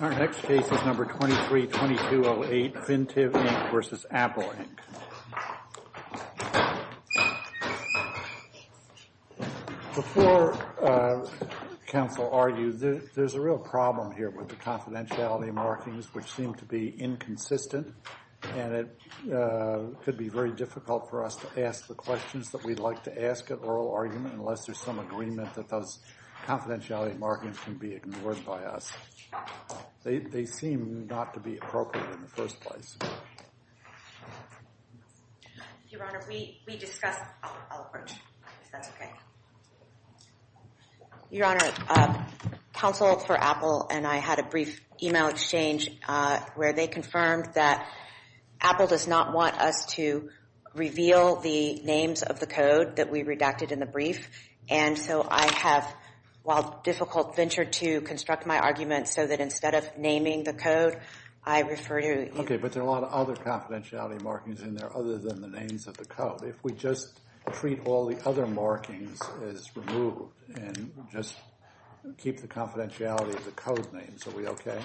Our next case is No. 23-2208, Fintiv, Inc. v. Apple, Inc. Before counsel argues, there's a real problem here with the confidentiality markings, which seem to be inconsistent, and it could be very difficult for us to ask the questions that we'd like to ask at oral argument unless there's some agreement that those confidentiality markings can be ignored by us. They seem not to be appropriate in the first place. Your Honor, we discussed our approach, if that's okay. Your Honor, counsel for Apple and I had a brief email exchange where they confirmed that Apple does not want us to reveal the names of the code that we redacted in the brief, and so I have, while difficult, ventured to construct my argument so that instead of naming the code, I refer to... Okay, but there are a lot of other confidentiality markings in there other than the names of the code. If we just treat all the other markings as removed and just keep the confidentiality of the code names, are we okay?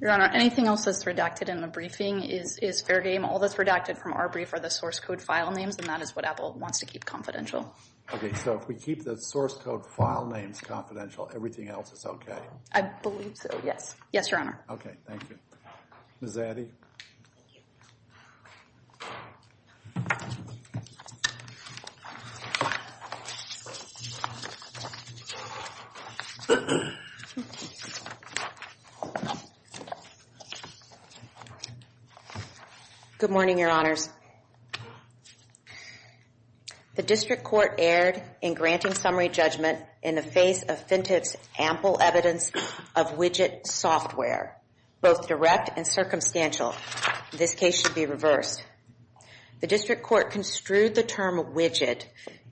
Your Honor, anything else that's redacted in the briefing is fair game. All that's redacted from our brief are the source code file names, and that is what Apple wants to keep confidential. Okay, so if we keep the source code file names confidential, everything else is okay? I believe so, yes. Yes, Your Honor. Okay, thank you. Ms. Addy. Good morning, Your Honors. The District Court erred in granting summary judgment in the face of Fintech's ample evidence of widget software, both direct and circumstantial. This case should be reversed. The District Court construed the term widget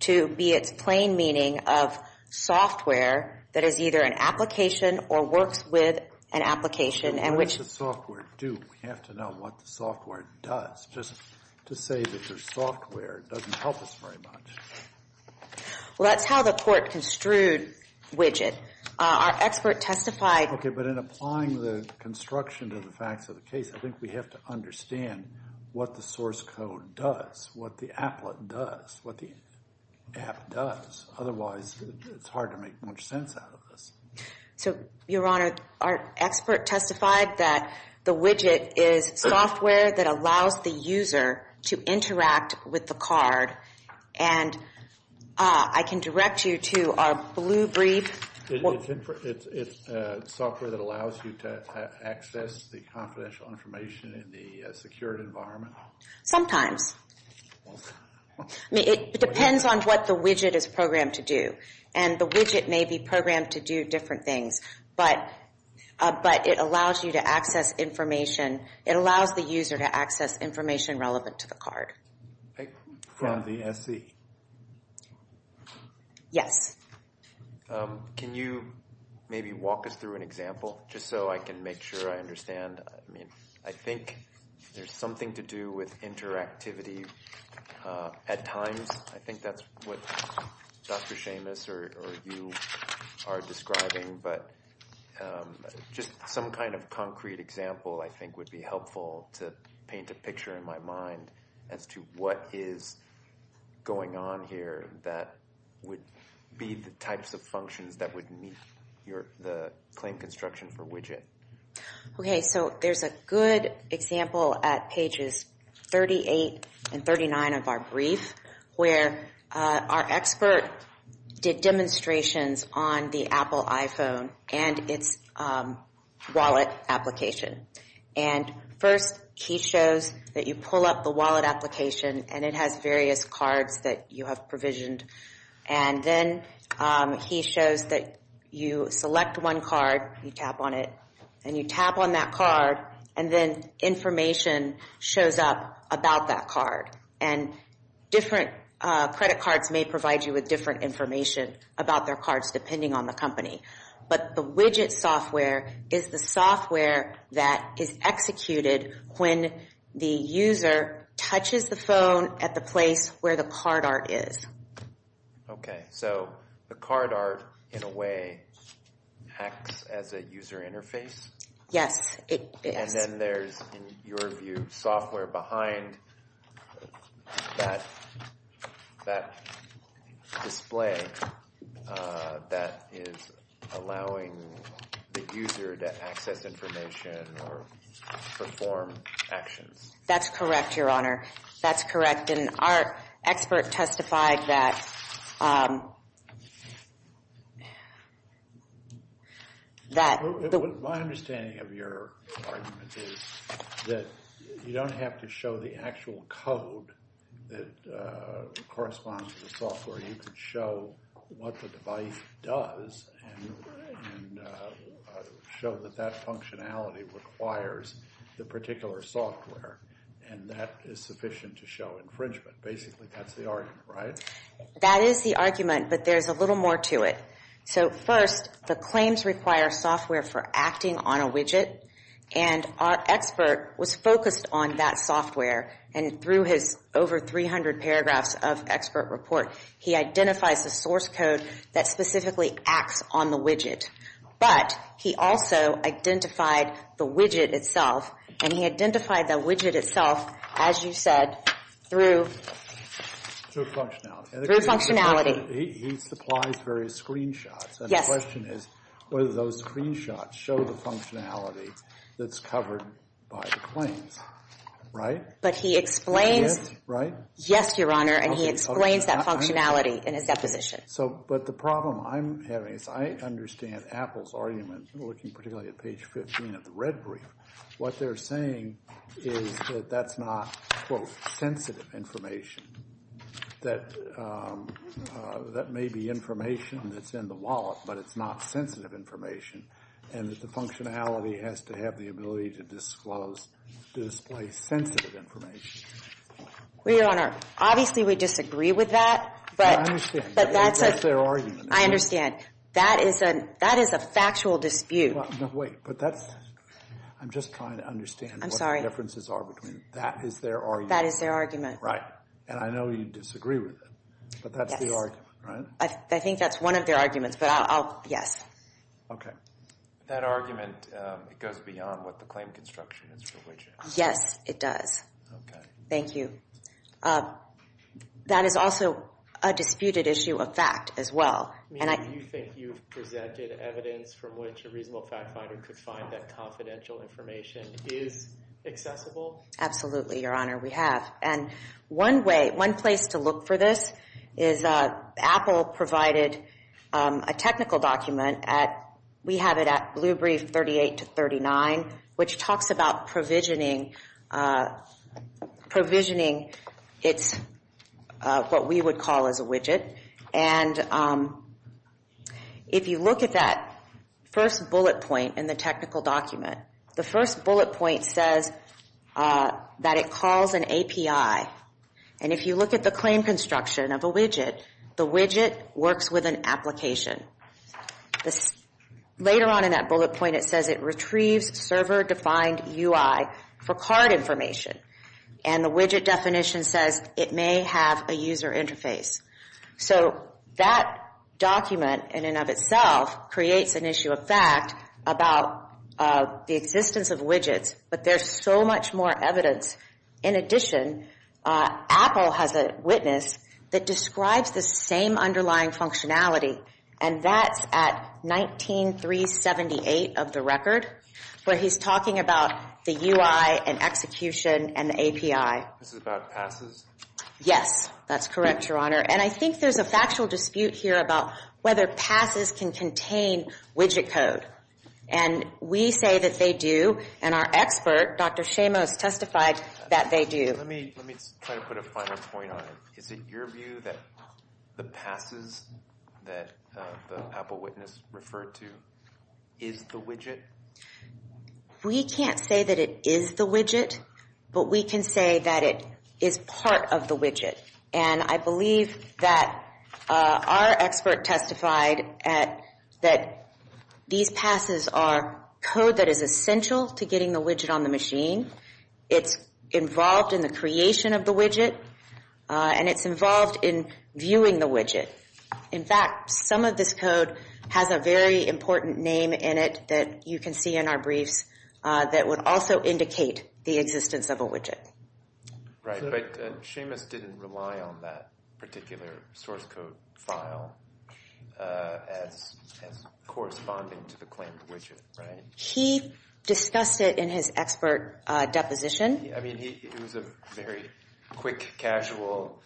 to be its plain meaning of software that is either an application or works with an application, and which... What does the software do? We have to know what the software does. Just to say that there's software doesn't help us very much. Well, that's how the court construed widget. Our expert testified... Okay, but in applying the construction to the facts of the case, I think we have to understand what the source code does, what the applet does, what the app does. Otherwise, it's hard to make much sense out of this. So, Your Honor, our expert testified that the widget is software that allows the user to interact with the card, and I can direct you to our blue brief. It's software that allows you to access the confidential information in the secured environment? Sometimes. I mean, it depends on what the widget is programmed to do. And the widget may be programmed to do different things, but it allows you to access information. It allows the user to access information relevant to the card. From the SC? Yes. Can you maybe walk us through an example, just so I can make sure I understand? I mean, I think there's something to do with interactivity. At times, I think that's what Dr. Seamus or you are describing, but just some kind of concrete example I think would be helpful to paint a picture in my mind as to what is going on here that would be the types of functions that would meet the claim construction for widget. Okay, so there's a good example at pages 38 and 39 of our brief, where our expert did demonstrations on the Apple iPhone and its wallet application. And first, he shows that you pull up the wallet application, and it has various cards that you have provisioned. And then he shows that you select one card, you tap on it, and you tap on that card, and then information shows up about that card. And different credit cards may provide you with different information about their cards, depending on the company. But the widget software is the software that is executed when the user touches the phone at the place where the card art is. Okay, so the card art, in a way, acts as a user interface? Yes, it does. And then there's, in your view, software behind that display that is allowing the user to access information or perform actions. That's correct, Your Honor. That's correct, and our expert testified that... My understanding of your argument is that you don't have to show the actual code that corresponds to the software. You can show what the device does and show that that functionality requires the particular software, and that is sufficient to show infringement. Basically, that's the argument, right? That is the argument, but there's a little more to it. So first, the claims require software for acting on a widget, and our expert was focused on that software, and through his over 300 paragraphs of expert report, he identifies the source code that specifically acts on the widget. But he also identified the widget itself, and he identified the widget itself, as you said, through... Through functionality. He supplies various screenshots. Yes. And the question is whether those screenshots show the functionality that's covered by the claims, right? But he explains... Yes, right? Yes, Your Honor, and he explains that functionality in his deposition. But the problem I'm having is I understand Apple's argument, looking particularly at page 15 of the red brief. What they're saying is that that's not, quote, sensitive information, that that may be information that's in the wallet, but it's not sensitive information, and that the functionality has to have the ability to disclose, to display sensitive information. Well, Your Honor, obviously we disagree with that, but... I understand. But that's a... That's their argument. I understand. That is a factual dispute. No, wait, but that's... I'm just trying to understand what the differences are between... That is their argument. That is their argument. Right. And I know you disagree with it, but that's the argument, right? Yes. I think that's one of their arguments, but I'll... Yes. Okay. That argument, it goes beyond what the claim construction is for widgets. Yes, it does. Okay. Thank you. That is also a disputed issue of fact as well, and I... Do you think you've presented evidence from which a reasonable fact finder could find that confidential information is accessible? Absolutely, Your Honor, we have. And one way, one place to look for this is... Apple provided a technical document at... We have it at Blue Brief 38 to 39, which talks about provisioning... Provisioning its... What we would call as a widget. And if you look at that first bullet point in the technical document, the first bullet point says that it calls an API. And if you look at the claim construction of a widget, the widget works with an application. Later on in that bullet point, it says it retrieves server-defined UI for card information. And the widget definition says it may have a user interface. So that document in and of itself creates an issue of fact about the existence of widgets, but there's so much more evidence. In addition, Apple has a witness that describes the same underlying functionality, and that's at 19-378 of the record, where he's talking about the UI and execution and the API. This is about passes? Yes, that's correct, Your Honor. And I think there's a factual dispute here about whether passes can contain widget code. And we say that they do, and our expert, Dr. Shamos, testified that they do. Let me try to put a final point on it. Is it your view that the passes that the Apple witness referred to is the widget? We can't say that it is the widget, but we can say that it is part of the widget. And I believe that our expert testified that these passes are code that is essential to getting the widget on the machine. It's involved in the creation of the widget, and it's involved in viewing the widget. In fact, some of this code has a very important name in it that you can see in our briefs that would also indicate the existence of a widget. Right, but Shamos didn't rely on that particular source code file as corresponding to the claimed widget, right? He discussed it in his expert deposition. I mean, it was a very quick, casual,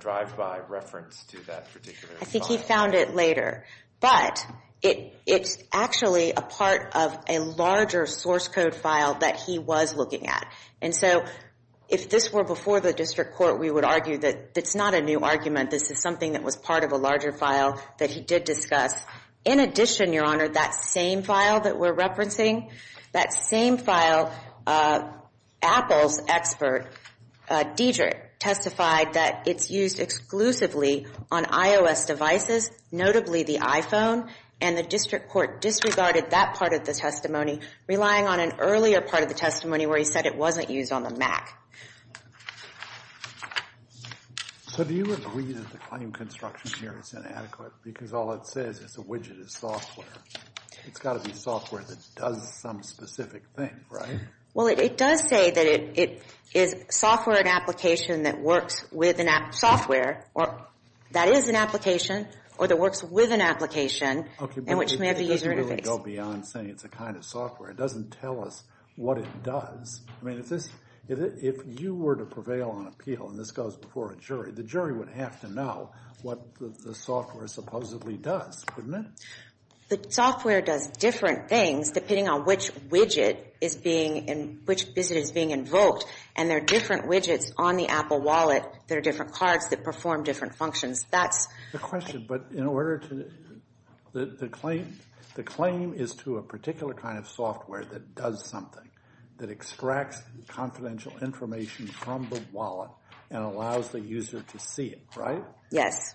drive-by reference to that particular file. I think he found it later. But it's actually a part of a larger source code file that he was looking at. And so if this were before the district court, we would argue that it's not a new argument. This is something that was part of a larger file that he did discuss. In addition, Your Honor, that same file that we're referencing, that same file, Apple's expert, Dedrick, testified that it's used exclusively on iOS devices, notably the iPhone. And the district court disregarded that part of the testimony, relying on an earlier part of the testimony where he said it wasn't used on the Mac. So do you agree that the claim construction here is inadequate because all it says is a widget is software? It's got to be software that does some specific thing, right? Well, it does say that it is software, an application that works with software, that is an application, or that works with an application, and which may have a user interface. Okay, but it doesn't really go beyond saying it's a kind of software. It doesn't tell us what it does. I mean, if you were to prevail on appeal, and this goes before a jury, the jury would have to know what the software supposedly does, wouldn't it? The software does different things depending on which widget is being, which visit is being invoked. And there are different widgets on the Apple Wallet that are different cards that perform different functions. The question, but in order to, the claim is to a particular kind of software that does something, that extracts confidential information from the wallet and allows the user to see it, right? Yes.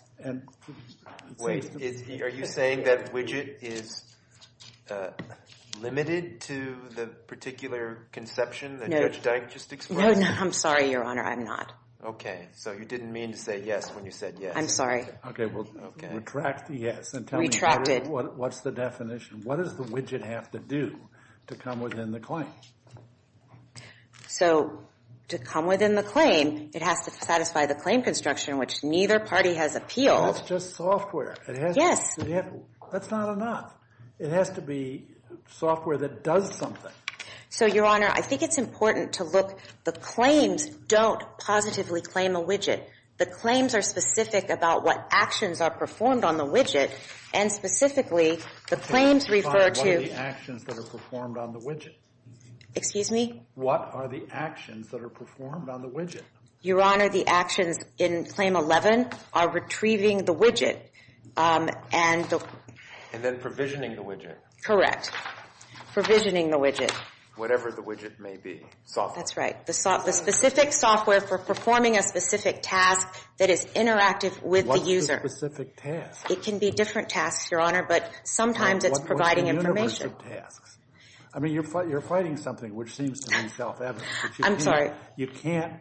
Wait, are you saying that widget is limited to the particular conception that Judge Dank just expressed? No, I'm sorry, Your Honor, I'm not. Okay, so you didn't mean to say yes when you said yes. I'm sorry. Okay, well, retract the yes and tell me what's the definition. What does the widget have to do to come within the claim? So, to come within the claim, it has to satisfy the claim construction, which neither party has appealed. That's just software. Yes. That's not enough. It has to be software that does something. So, Your Honor, I think it's important to look, the claims don't positively claim a widget. The claims are specific about what actions are performed on the widget, and specifically, the claims refer to What are the actions that are performed on the widget? Excuse me? What are the actions that are performed on the widget? Your Honor, the actions in Claim 11 are retrieving the widget and And then provisioning the widget. Correct. Provisioning the widget. Whatever the widget may be. Software. That's right. The specific software for performing a specific task that is interactive with the user. What's the specific task? It can be different tasks, Your Honor, but sometimes it's providing information. What's the universe of tasks? I mean, you're fighting something which seems to be self-evident. I'm sorry. You can't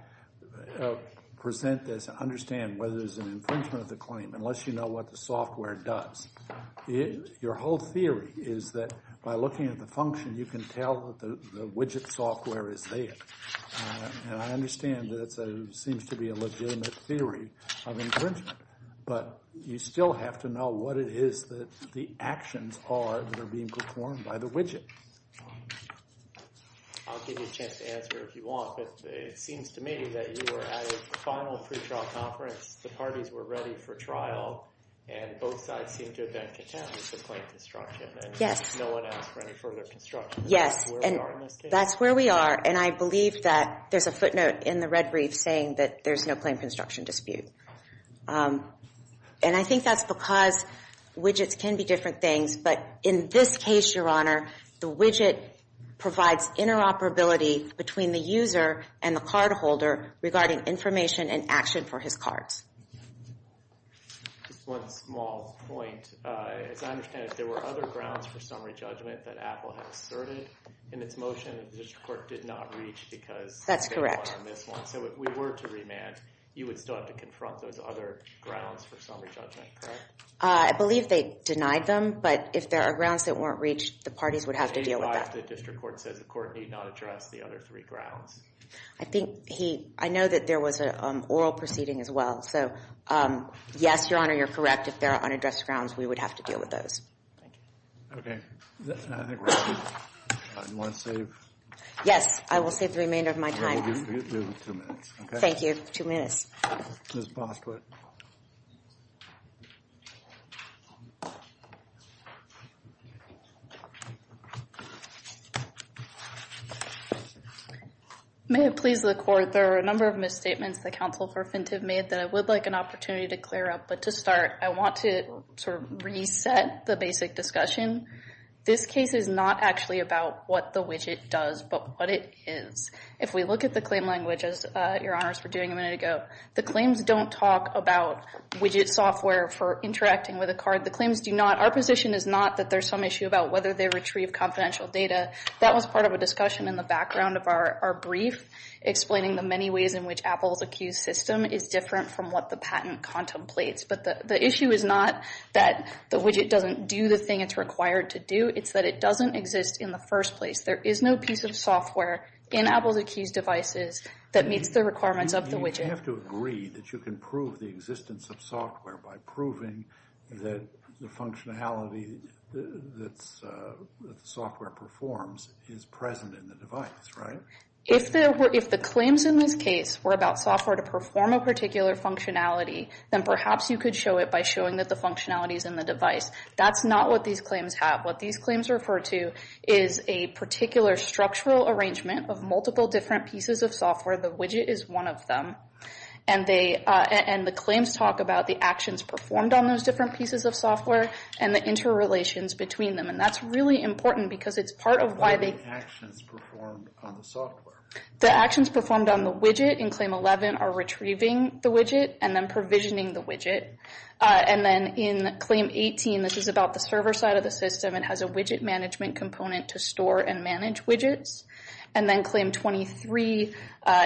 present this and understand whether there's an infringement of the claim unless you know what the software does. Your whole theory is that by looking at the function, you can tell that the widget software is there. And I understand that seems to be a legitimate theory of infringement. But you still have to know what it is that the actions are that are being performed by the widget. I'll give you a chance to answer if you want, but it seems to me that you were at a final pretrial conference. The parties were ready for trial, and both sides seem to have been content with the claim construction. Yes. And no one asked for any further construction. Yes. That's where we are in this case. That's where we are, and I believe that there's a footnote in the red brief saying that there's no claim construction dispute. And I think that's because widgets can be different things, but in this case, Your Honor, the widget provides interoperability between the user and the cardholder regarding information and action for his cards. Just one small point. As I understand it, there were other grounds for summary judgment that Apple had asserted in its motion, and the district court did not reach because they didn't want to miss one. So if we were to remand, you would still have to confront those other grounds for summary judgment, correct? I believe they denied them, but if there are grounds that weren't reached, the parties would have to deal with that. If the district court says the court need not address the other three grounds. I think he, I know that there was an oral proceeding as well. So yes, Your Honor, you're correct. If there are unaddressed grounds, we would have to deal with those. Thank you. Okay. I think we're good. Do you want to save? Yes, I will save the remainder of my time. We'll give you two minutes, okay? Thank you. Two minutes. Ms. Bostwick. Thank you. May it please the court, there are a number of misstatements the counsel for FINT have made that I would like an opportunity to clear up. But to start, I want to sort of reset the basic discussion. This case is not actually about what the widget does, but what it is. If we look at the claim language, as Your Honors were doing a minute ago, the claims don't talk about widget software for interacting with a card. The claims do not, our position is not that there's some issue about whether they retrieve confidential data. That was part of a discussion in the background of our brief, explaining the many ways in which Apple's Accused system is different from what the patent contemplates. But the issue is not that the widget doesn't do the thing it's required to do. It's that it doesn't exist in the first place. There is no piece of software in Apple's Accused devices that meets the requirements of the widget. You may have to agree that you can prove the existence of software by proving that the functionality that the software performs is present in the device, right? If the claims in this case were about software to perform a particular functionality, then perhaps you could show it by showing that the functionality is in the device. That's not what these claims have. What these claims refer to is a particular structural arrangement of multiple different pieces of software. The widget is one of them. And the claims talk about the actions performed on those different pieces of software and the interrelations between them. And that's really important because it's part of why the actions performed on the widget in Claim 11 are retrieving the widget and then provisioning the widget. And then in Claim 18, this is about the server side of the system, it has a widget management component to store and manage widgets. And then Claim 23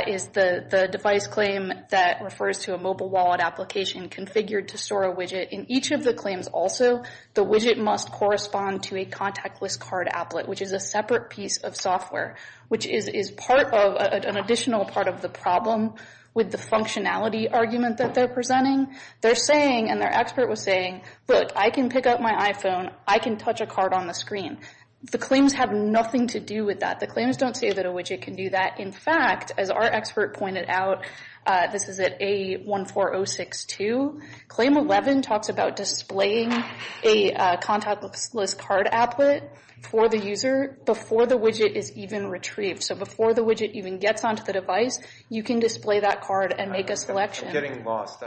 is the device claim that refers to a mobile wallet application configured to store a widget. In each of the claims also, the widget must correspond to a contactless card applet, which is a separate piece of software, which is an additional part of the problem with the functionality argument that they're presenting. They're saying, and their expert was saying, look, I can pick up my iPhone, I can touch a card on the screen. The claims have nothing to do with that. The claims don't say that a widget can do that. In fact, as our expert pointed out, this is at A14062, Claim 11 talks about displaying a contactless card applet for the user before the widget is even retrieved. So before the widget even gets onto the device, you can display that card and make a selection. I'm getting lost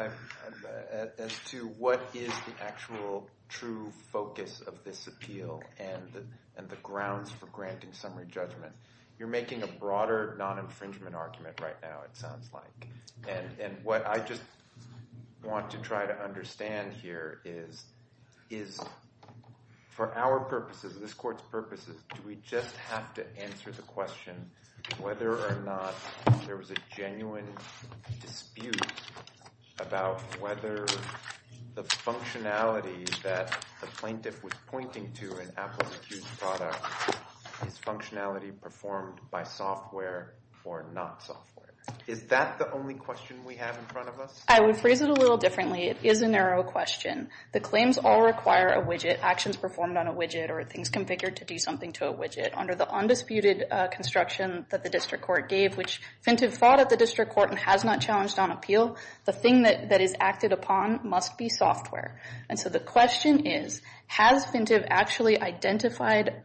as to what is the actual true focus of this appeal and the grounds for granting summary judgment. You're making a broader non-infringement argument right now, it sounds like. And what I just want to try to understand here is, for our purposes, this court's purposes, do we just have to answer the question whether or not there was a genuine dispute about whether the functionality that the plaintiff was pointing to in Apple's accused product is functionality performed by software or not software? Is that the only question we have in front of us? I would phrase it a little differently. It is a narrow question. The claims all require a widget, actions performed on a widget, or things configured to do something to a widget. Under the undisputed construction that the district court gave, which Fintive fought at the district court and has not challenged on appeal, the thing that is acted upon must be software. And so the question is, has Fintive actually identified,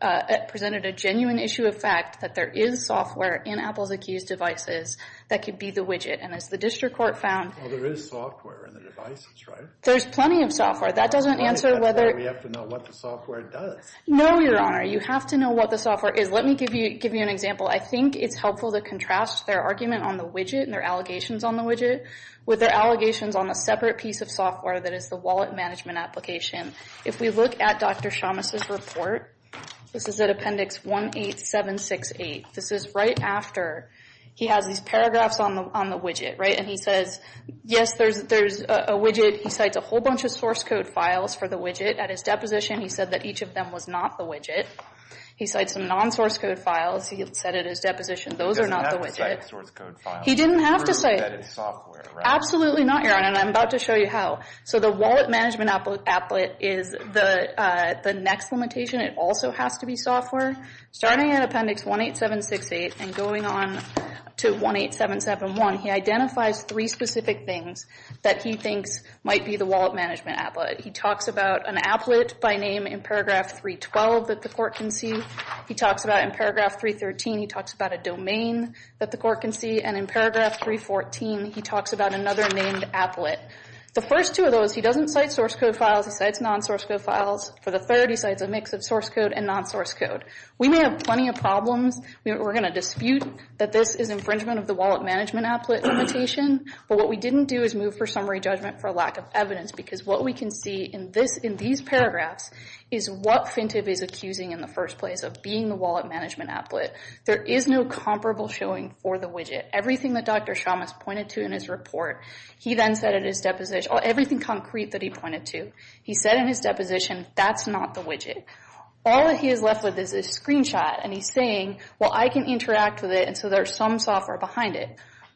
presented a genuine issue of fact that there is software in Apple's accused devices that could be the widget? And as the district court found— There is software in the device, that's right. There's plenty of software. That doesn't answer whether— That's why we have to know what the software does. No, Your Honor. You have to know what the software is. Let me give you an example. I think it's helpful to contrast their argument on the widget and their allegations on the widget with their allegations on a separate piece of software that is the wallet management application. If we look at Dr. Shamas' report, this is at Appendix 18768. This is right after he has these paragraphs on the widget, right? And he says, yes, there's a widget. He cites a whole bunch of source code files for the widget. At his deposition, he said that each of them was not the widget. He cites some non-source code files. He said at his deposition, those are not the widget. He doesn't have to cite source code files. He didn't have to cite— Or embedded software, right? Absolutely not, Your Honor, and I'm about to show you how. So the wallet management applet is the next limitation. It also has to be software. Starting at Appendix 18768 and going on to 18771, he identifies three specific things that he thinks might be the wallet management applet. He talks about an applet by name in Paragraph 312 that the court can see. He talks about in Paragraph 313, he talks about a domain that the court can see. And in Paragraph 314, he talks about another named applet. The first two of those, he doesn't cite source code files. He cites non-source code files. For the third, he cites a mix of source code and non-source code. We may have plenty of problems. We're going to dispute that this is infringement of the wallet management applet limitation. But what we didn't do is move for summary judgment for lack of evidence because what we can see in these paragraphs is what Fintip is accusing in the first place of being the wallet management applet. There is no comparable showing for the widget. Everything that Dr. Shamas pointed to in his report, he then said in his deposition— everything concrete that he pointed to, he said in his deposition, that's not the widget. All that he is left with is a screenshot. And he's saying, well, I can interact with it, and so there's some software behind it.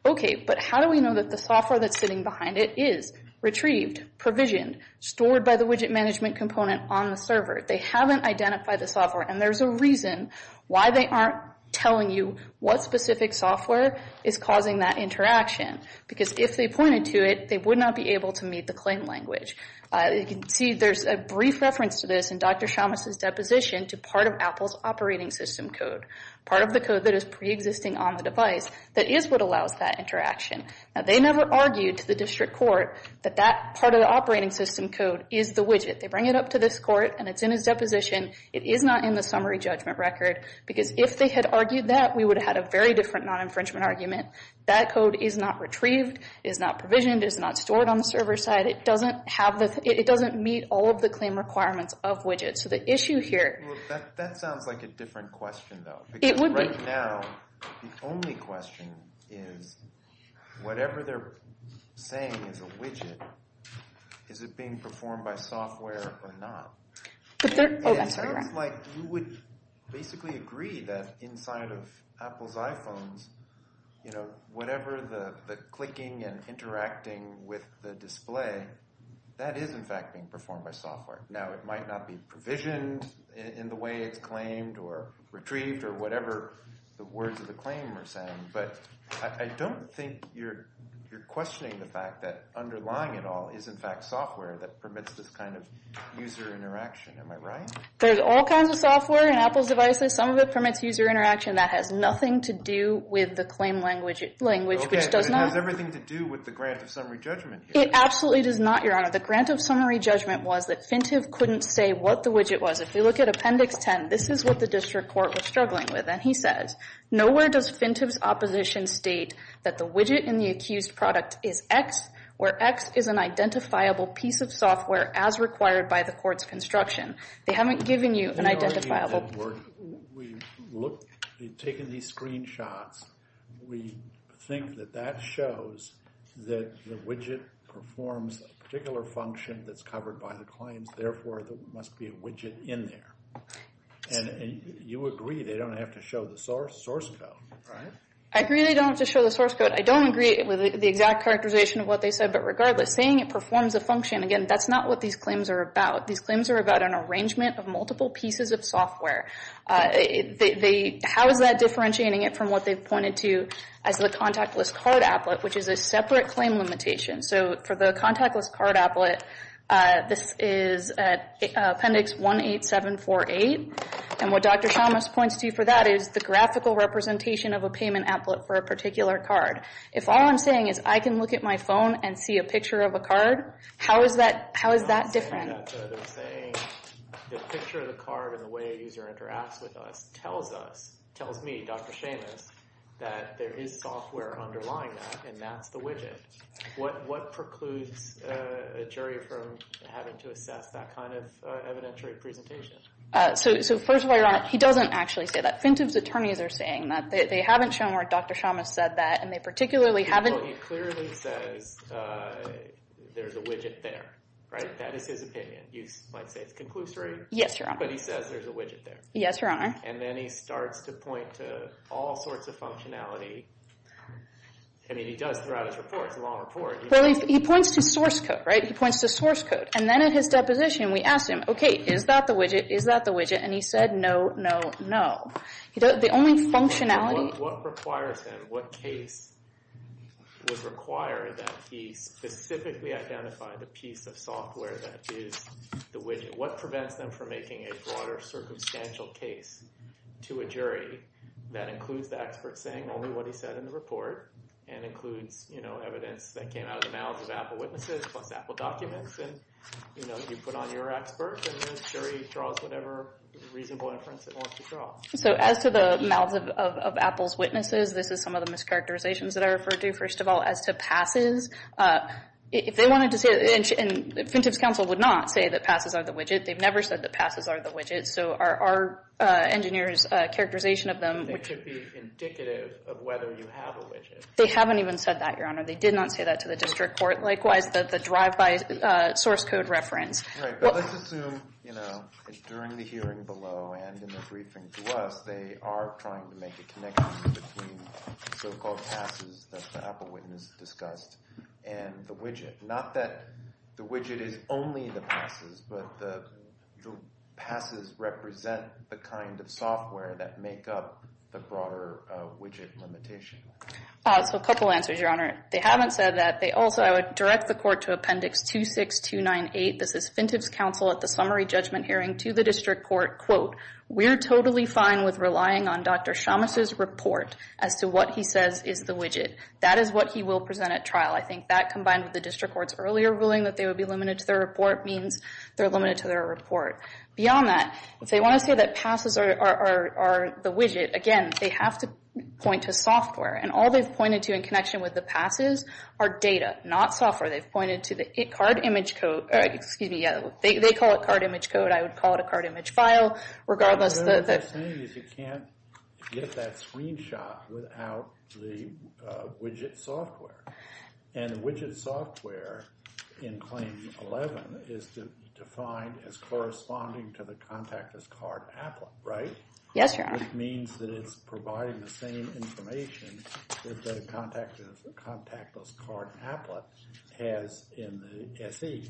Okay, but how do we know that the software that's sitting behind it is retrieved, provisioned, stored by the widget management component on the server? They haven't identified the software. And there's a reason why they aren't telling you what specific software is causing that interaction. Because if they pointed to it, they would not be able to meet the claim language. You can see there's a brief reference to this in Dr. Shamas's deposition to part of Apple's operating system code, part of the code that is preexisting on the device that is what allows that interaction. Now, they never argued to the district court that that part of the operating system code is the widget. They bring it up to this court, and it's in his deposition. It is not in the summary judgment record because if they had argued that, we would have had a very different non-infringement argument. That code is not retrieved, is not provisioned, is not stored on the server side. It doesn't meet all of the claim requirements of widgets. So the issue here... That sounds like a different question, though. It would be. Because right now, the only question is whatever they're saying is a widget, is it being performed by software or not? But they're... Oh, that's all right. It sounds like you would basically agree that inside of Apple's iPhones, whatever the clicking and interacting with the display, that is, in fact, being performed by software. Now, it might not be provisioned in the way it's claimed or retrieved or whatever the words of the claim are saying, but I don't think you're questioning the fact that underlying it all is, in fact, software that permits this kind of user interaction. Am I right? There's all kinds of software in Apple's devices. Some of it permits user interaction. That has nothing to do with the claim language, which does not... Okay, but it has everything to do with the grant of summary judgment. It absolutely does not, Your Honor. The grant of summary judgment was that Fintive couldn't say what the widget was. If you look at Appendix 10, this is what the district court was struggling with, and he says, Nowhere does Fintive's opposition state that the widget in the accused product is X, where X is an identifiable piece of software as required by the court's construction. They haven't given you an identifiable... We've taken these screenshots. We think that that shows that the widget performs a particular function that's covered by the claims. Therefore, there must be a widget in there. And you agree they don't have to show the source code, right? I agree they don't have to show the source code. I don't agree with the exact characterization of what they said, but regardless, saying it performs a function, again, that's not what these claims are about. These claims are about an arrangement of multiple pieces of software. How is that differentiating it from what they've pointed to as the contactless card applet, which is a separate claim limitation? So for the contactless card applet, this is Appendix 18748, and what Dr. Chalmers points to for that is the graphical representation of a payment applet for a particular card. If all I'm saying is I can look at my phone and see a picture of a card, how is that different? They're saying the picture of the card and the way a user interacts with us tells us, tells me, Dr. Seamus, that there is software underlying that, and that's the widget. What precludes a jury from having to assess that kind of evidentiary presentation? So first of all, Your Honor, he doesn't actually say that. Fintub's attorneys are saying that. They haven't shown where Dr. Chalmers said that, and they particularly haven't— Well, he clearly says there's a widget there, right? That is his opinion. You might say it's conclusory. Yes, Your Honor. But he says there's a widget there. Yes, Your Honor. And then he starts to point to all sorts of functionality. I mean, he does throughout his report. It's a long report. Well, he points to source code, right? He points to source code. And then at his deposition, we asked him, okay, is that the widget? Is that the widget? And he said, no, no, no. The only functionality— What requires him? What case would require that he specifically identify the piece of software that is the widget? What prevents them from making a broader circumstantial case to a jury that includes the expert saying only what he said in the report and includes evidence that came out of the mouths of Apple witnesses plus Apple documents? And you put on your expert, and the jury draws whatever reasonable inference it wants to draw. So as to the mouths of Apple's witnesses, this is some of the mischaracterizations that I referred to. First of all, as to passes, if they wanted to say— and the Incentives Council would not say that passes are the widget. They've never said that passes are the widget. So our engineer's characterization of them— It could be indicative of whether you have a widget. They haven't even said that, Your Honor. They did not say that to the district court. Likewise, the drive-by source code reference. Right, but let's assume, you know, during the hearing below and in the briefing to us, they are trying to make a connection between so-called passes that the Apple witness discussed and the widget. Not that the widget is only the passes, but the passes represent the kind of software that make up the broader widget limitation. So a couple answers, Your Honor. They haven't said that. They also—I would direct the court to Appendix 26298. This is Fintiffs' counsel at the summary judgment hearing to the district court. Quote, we're totally fine with relying on Dr. Shamus' report as to what he says is the widget. That is what he will present at trial. I think that, combined with the district court's earlier ruling that they would be limited to their report, means they're limited to their report. Beyond that, if they want to say that passes are the widget, again, they have to point to software. And all they've pointed to in connection with the passes are data, not software. They've pointed to the card image code—excuse me, yeah, they call it card image code. I would call it a card image file, regardless of the— What they're saying is you can't get that screenshot without the widget software. And widget software in Claim 11 is defined as corresponding to the contactless card applet, right? Yes, Your Honor. Which means that it's providing the same information that a contactless card applet has in the SE.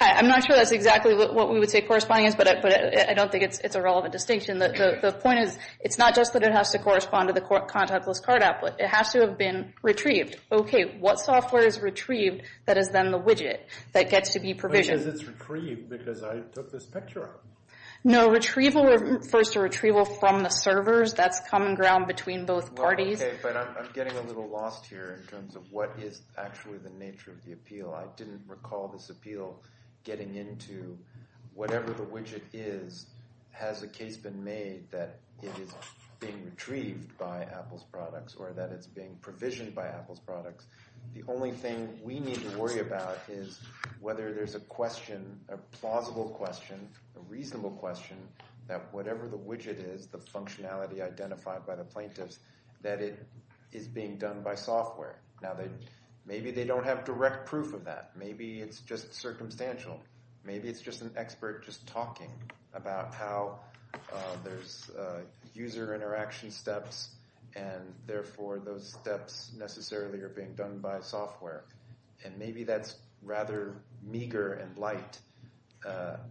I'm not sure that's exactly what we would say corresponding is, but I don't think it's a relevant distinction. The point is, it's not just that it has to correspond to the contactless card applet. It has to have been retrieved. Okay, what software is retrieved that is then the widget that gets to be provisioned? Which is it's retrieved because I took this picture of it. No, retrieval refers to retrieval from the servers. That's common ground between both parties. Okay, but I'm getting a little lost here in terms of what is actually the nature of the appeal. I didn't recall this appeal getting into whatever the widget is, has a case been made that it is being retrieved by Apple's products or that it's being provisioned by Apple's products. The only thing we need to worry about is whether there's a question, a plausible question, a reasonable question, that whatever the widget is, the functionality identified by the plaintiffs, that it is being done by software. Now, maybe they don't have direct proof of that. Maybe it's just circumstantial. Maybe it's just an expert just talking about how there's user interaction steps and therefore those steps necessarily are being done by software. And maybe that's rather meager and light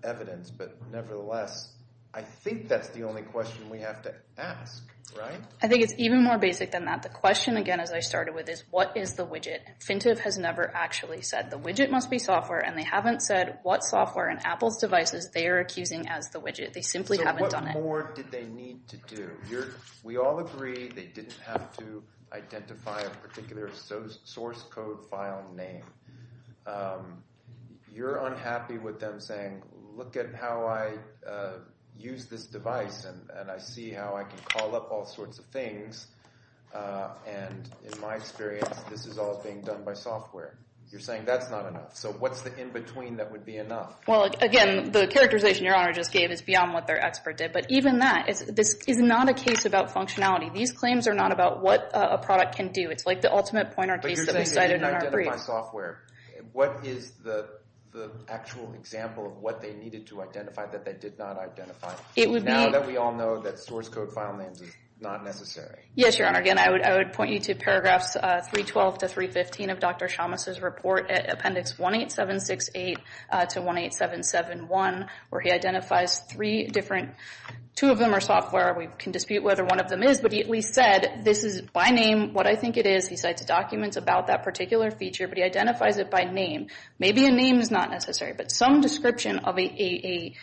evidence. But nevertheless, I think that's the only question we have to ask, right? I think it's even more basic than that. The question, again, as I started with, is what is the widget? Fintip has never actually said the widget must be software, and they haven't said what software in Apple's devices they are accusing as the widget. They simply haven't done it. So what more did they need to do? We all agree they didn't have to identify a particular source code file name. You're unhappy with them saying, look at how I use this device, and I see how I can call up all sorts of things, and in my experience, this is all being done by software. You're saying that's not enough. So what's the in-between that would be enough? Well, again, the characterization Your Honor just gave is beyond what their expert did. But even that, this is not a case about functionality. These claims are not about what a product can do. It's like the ultimate pointer case that we cited in our brief. But you're saying they didn't identify software. What is the actual example of what they needed to identify that they did not identify? Now that we all know that source code file names is not necessary. Yes, Your Honor. Again, I would point you to paragraphs 312 to 315 of Dr. Chalmers' report at appendix 18768 to 18771, where he identifies three different – two of them are software. We can dispute whether one of them is, but he at least said this is by name what I think it is. He cites documents about that particular feature, but he identifies it by name. Maybe a name is not necessary, but some description of a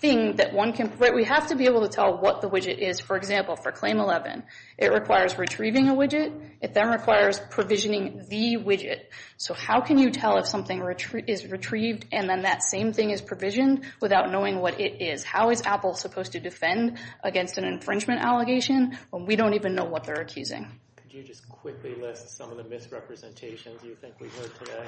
thing that one can – we have to be able to tell what the widget is. For example, for Claim 11, it requires retrieving a widget. It then requires provisioning the widget. So how can you tell if something is retrieved and then that same thing is provisioned without knowing what it is? How is Apple supposed to defend against an infringement allegation when we don't even know what they're accusing? Could you just quickly list some of the misrepresentations you think we heard today,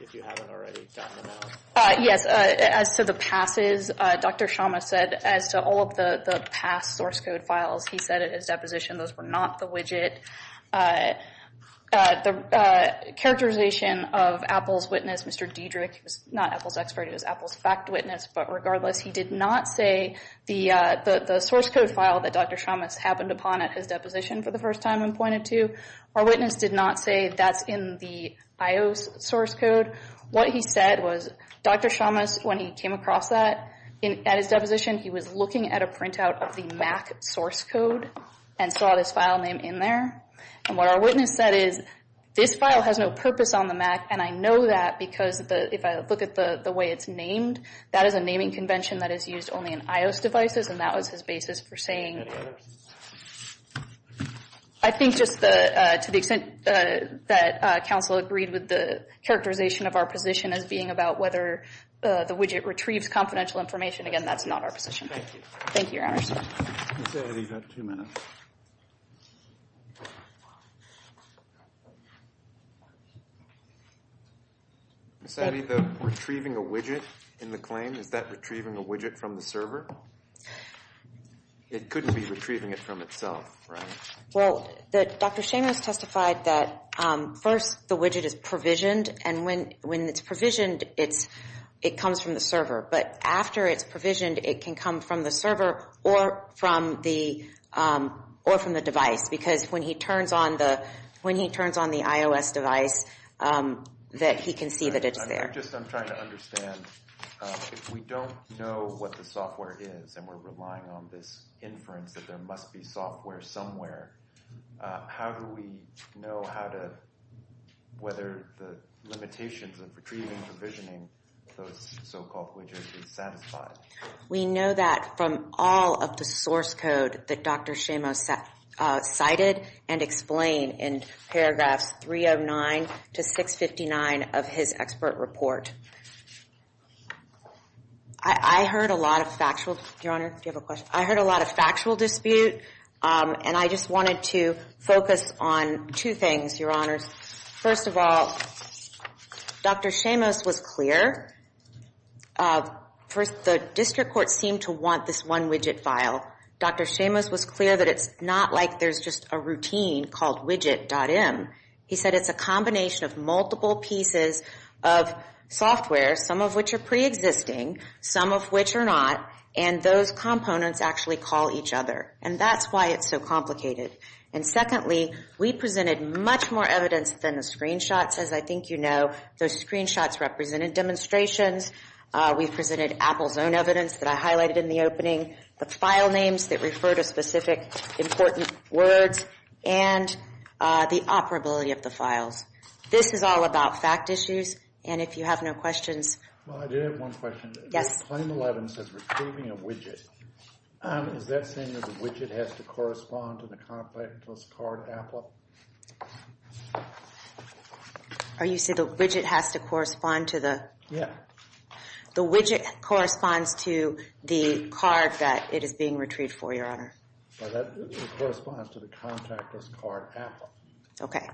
if you haven't already gotten them out? Yes. As to the passes, Dr. Chalmers said as to all of the past source code files, he said it as deposition. Those were not the widget. The characterization of Apple's witness, Mr. Diedrich, he was not Apple's expert. He was Apple's fact witness. But regardless, he did not say the source code file that Dr. Chalmers happened upon at his deposition for the first time and pointed to. Our witness did not say that's in the IOS source code. What he said was Dr. Chalmers, when he came across that at his deposition, he was looking at a printout of the MAC source code and saw this file name in there. And what our witness said is this file has no purpose on the MAC, and I know that because if I look at the way it's named, that is a naming convention that is used only in IOS devices, and that was his basis for saying. I think just to the extent that counsel agreed with the characterization of our position as being about whether the widget retrieves confidential information, again, that's not our position. Thank you. Thank you, Your Honor. Ms. Addy, you've got two minutes. Ms. Addy, the retrieving a widget in the claim, is that retrieving a widget from the server? It couldn't be retrieving it from itself, right? Well, Dr. Chalmers testified that first the widget is provisioned, and when it's provisioned, it comes from the server. But after it's provisioned, it can come from the server or from the device, because when he turns on the IOS device, he can see that it's there. I'm just trying to understand, if we don't know what the software is and we're relying on this inference that there must be software somewhere, how do we know whether the limitations of retrieving and provisioning those so-called widgets is satisfied? We know that from all of the source code that Dr. Chalmers cited and explained in paragraphs 309 to 659 of his expert report. I heard a lot of factual, Your Honor, do you have a question? I heard a lot of factual dispute, and I just wanted to focus on two things, Your Honors. First of all, Dr. Chalmers was clear. First, the district court seemed to want this one widget file. Dr. Chalmers was clear that it's not like there's just a routine called widget.im. He said it's a combination of multiple pieces of software, some of which are preexisting, some of which are not, and those components actually call each other, and that's why it's so complicated. And secondly, we presented much more evidence than the screenshots, as I think you know. Those screenshots represented demonstrations. We presented Apple's own evidence that I highlighted in the opening, the file names that refer to specific important words, and the operability of the files. This is all about fact issues, and if you have no questions. Well, I do have one question. Yes. Claim 11 says retrieving a widget. Is that saying that the widget has to correspond to the contactless card Apple? Are you saying the widget has to correspond to the? Yeah. The widget corresponds to the card that it is being retrieved for, Your Honor. Well, that corresponds to the contactless card Apple. Okay.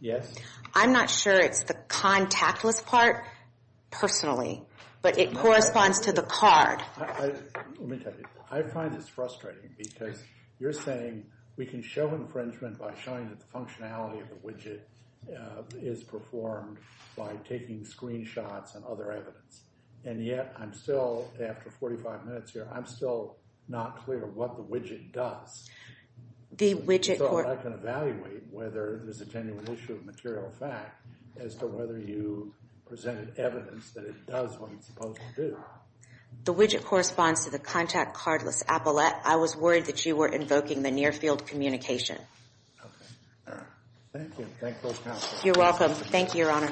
Yes? I'm not sure it's the contactless part personally, but it corresponds to the card. Let me tell you, I find this frustrating because you're saying we can show infringement by showing that the functionality of the widget is performed by taking screenshots and other evidence, and yet I'm still, after 45 minutes here, I'm still not clear what the widget does. The widget. So I can evaluate whether there's a genuine issue of material fact as to whether you presented evidence that it does what it's supposed to do. The widget corresponds to the contactless Apple. I was worried that you were invoking the near field communication. Okay. All right. Thank you. Thank you. You're welcome. Thank you, Your Honor.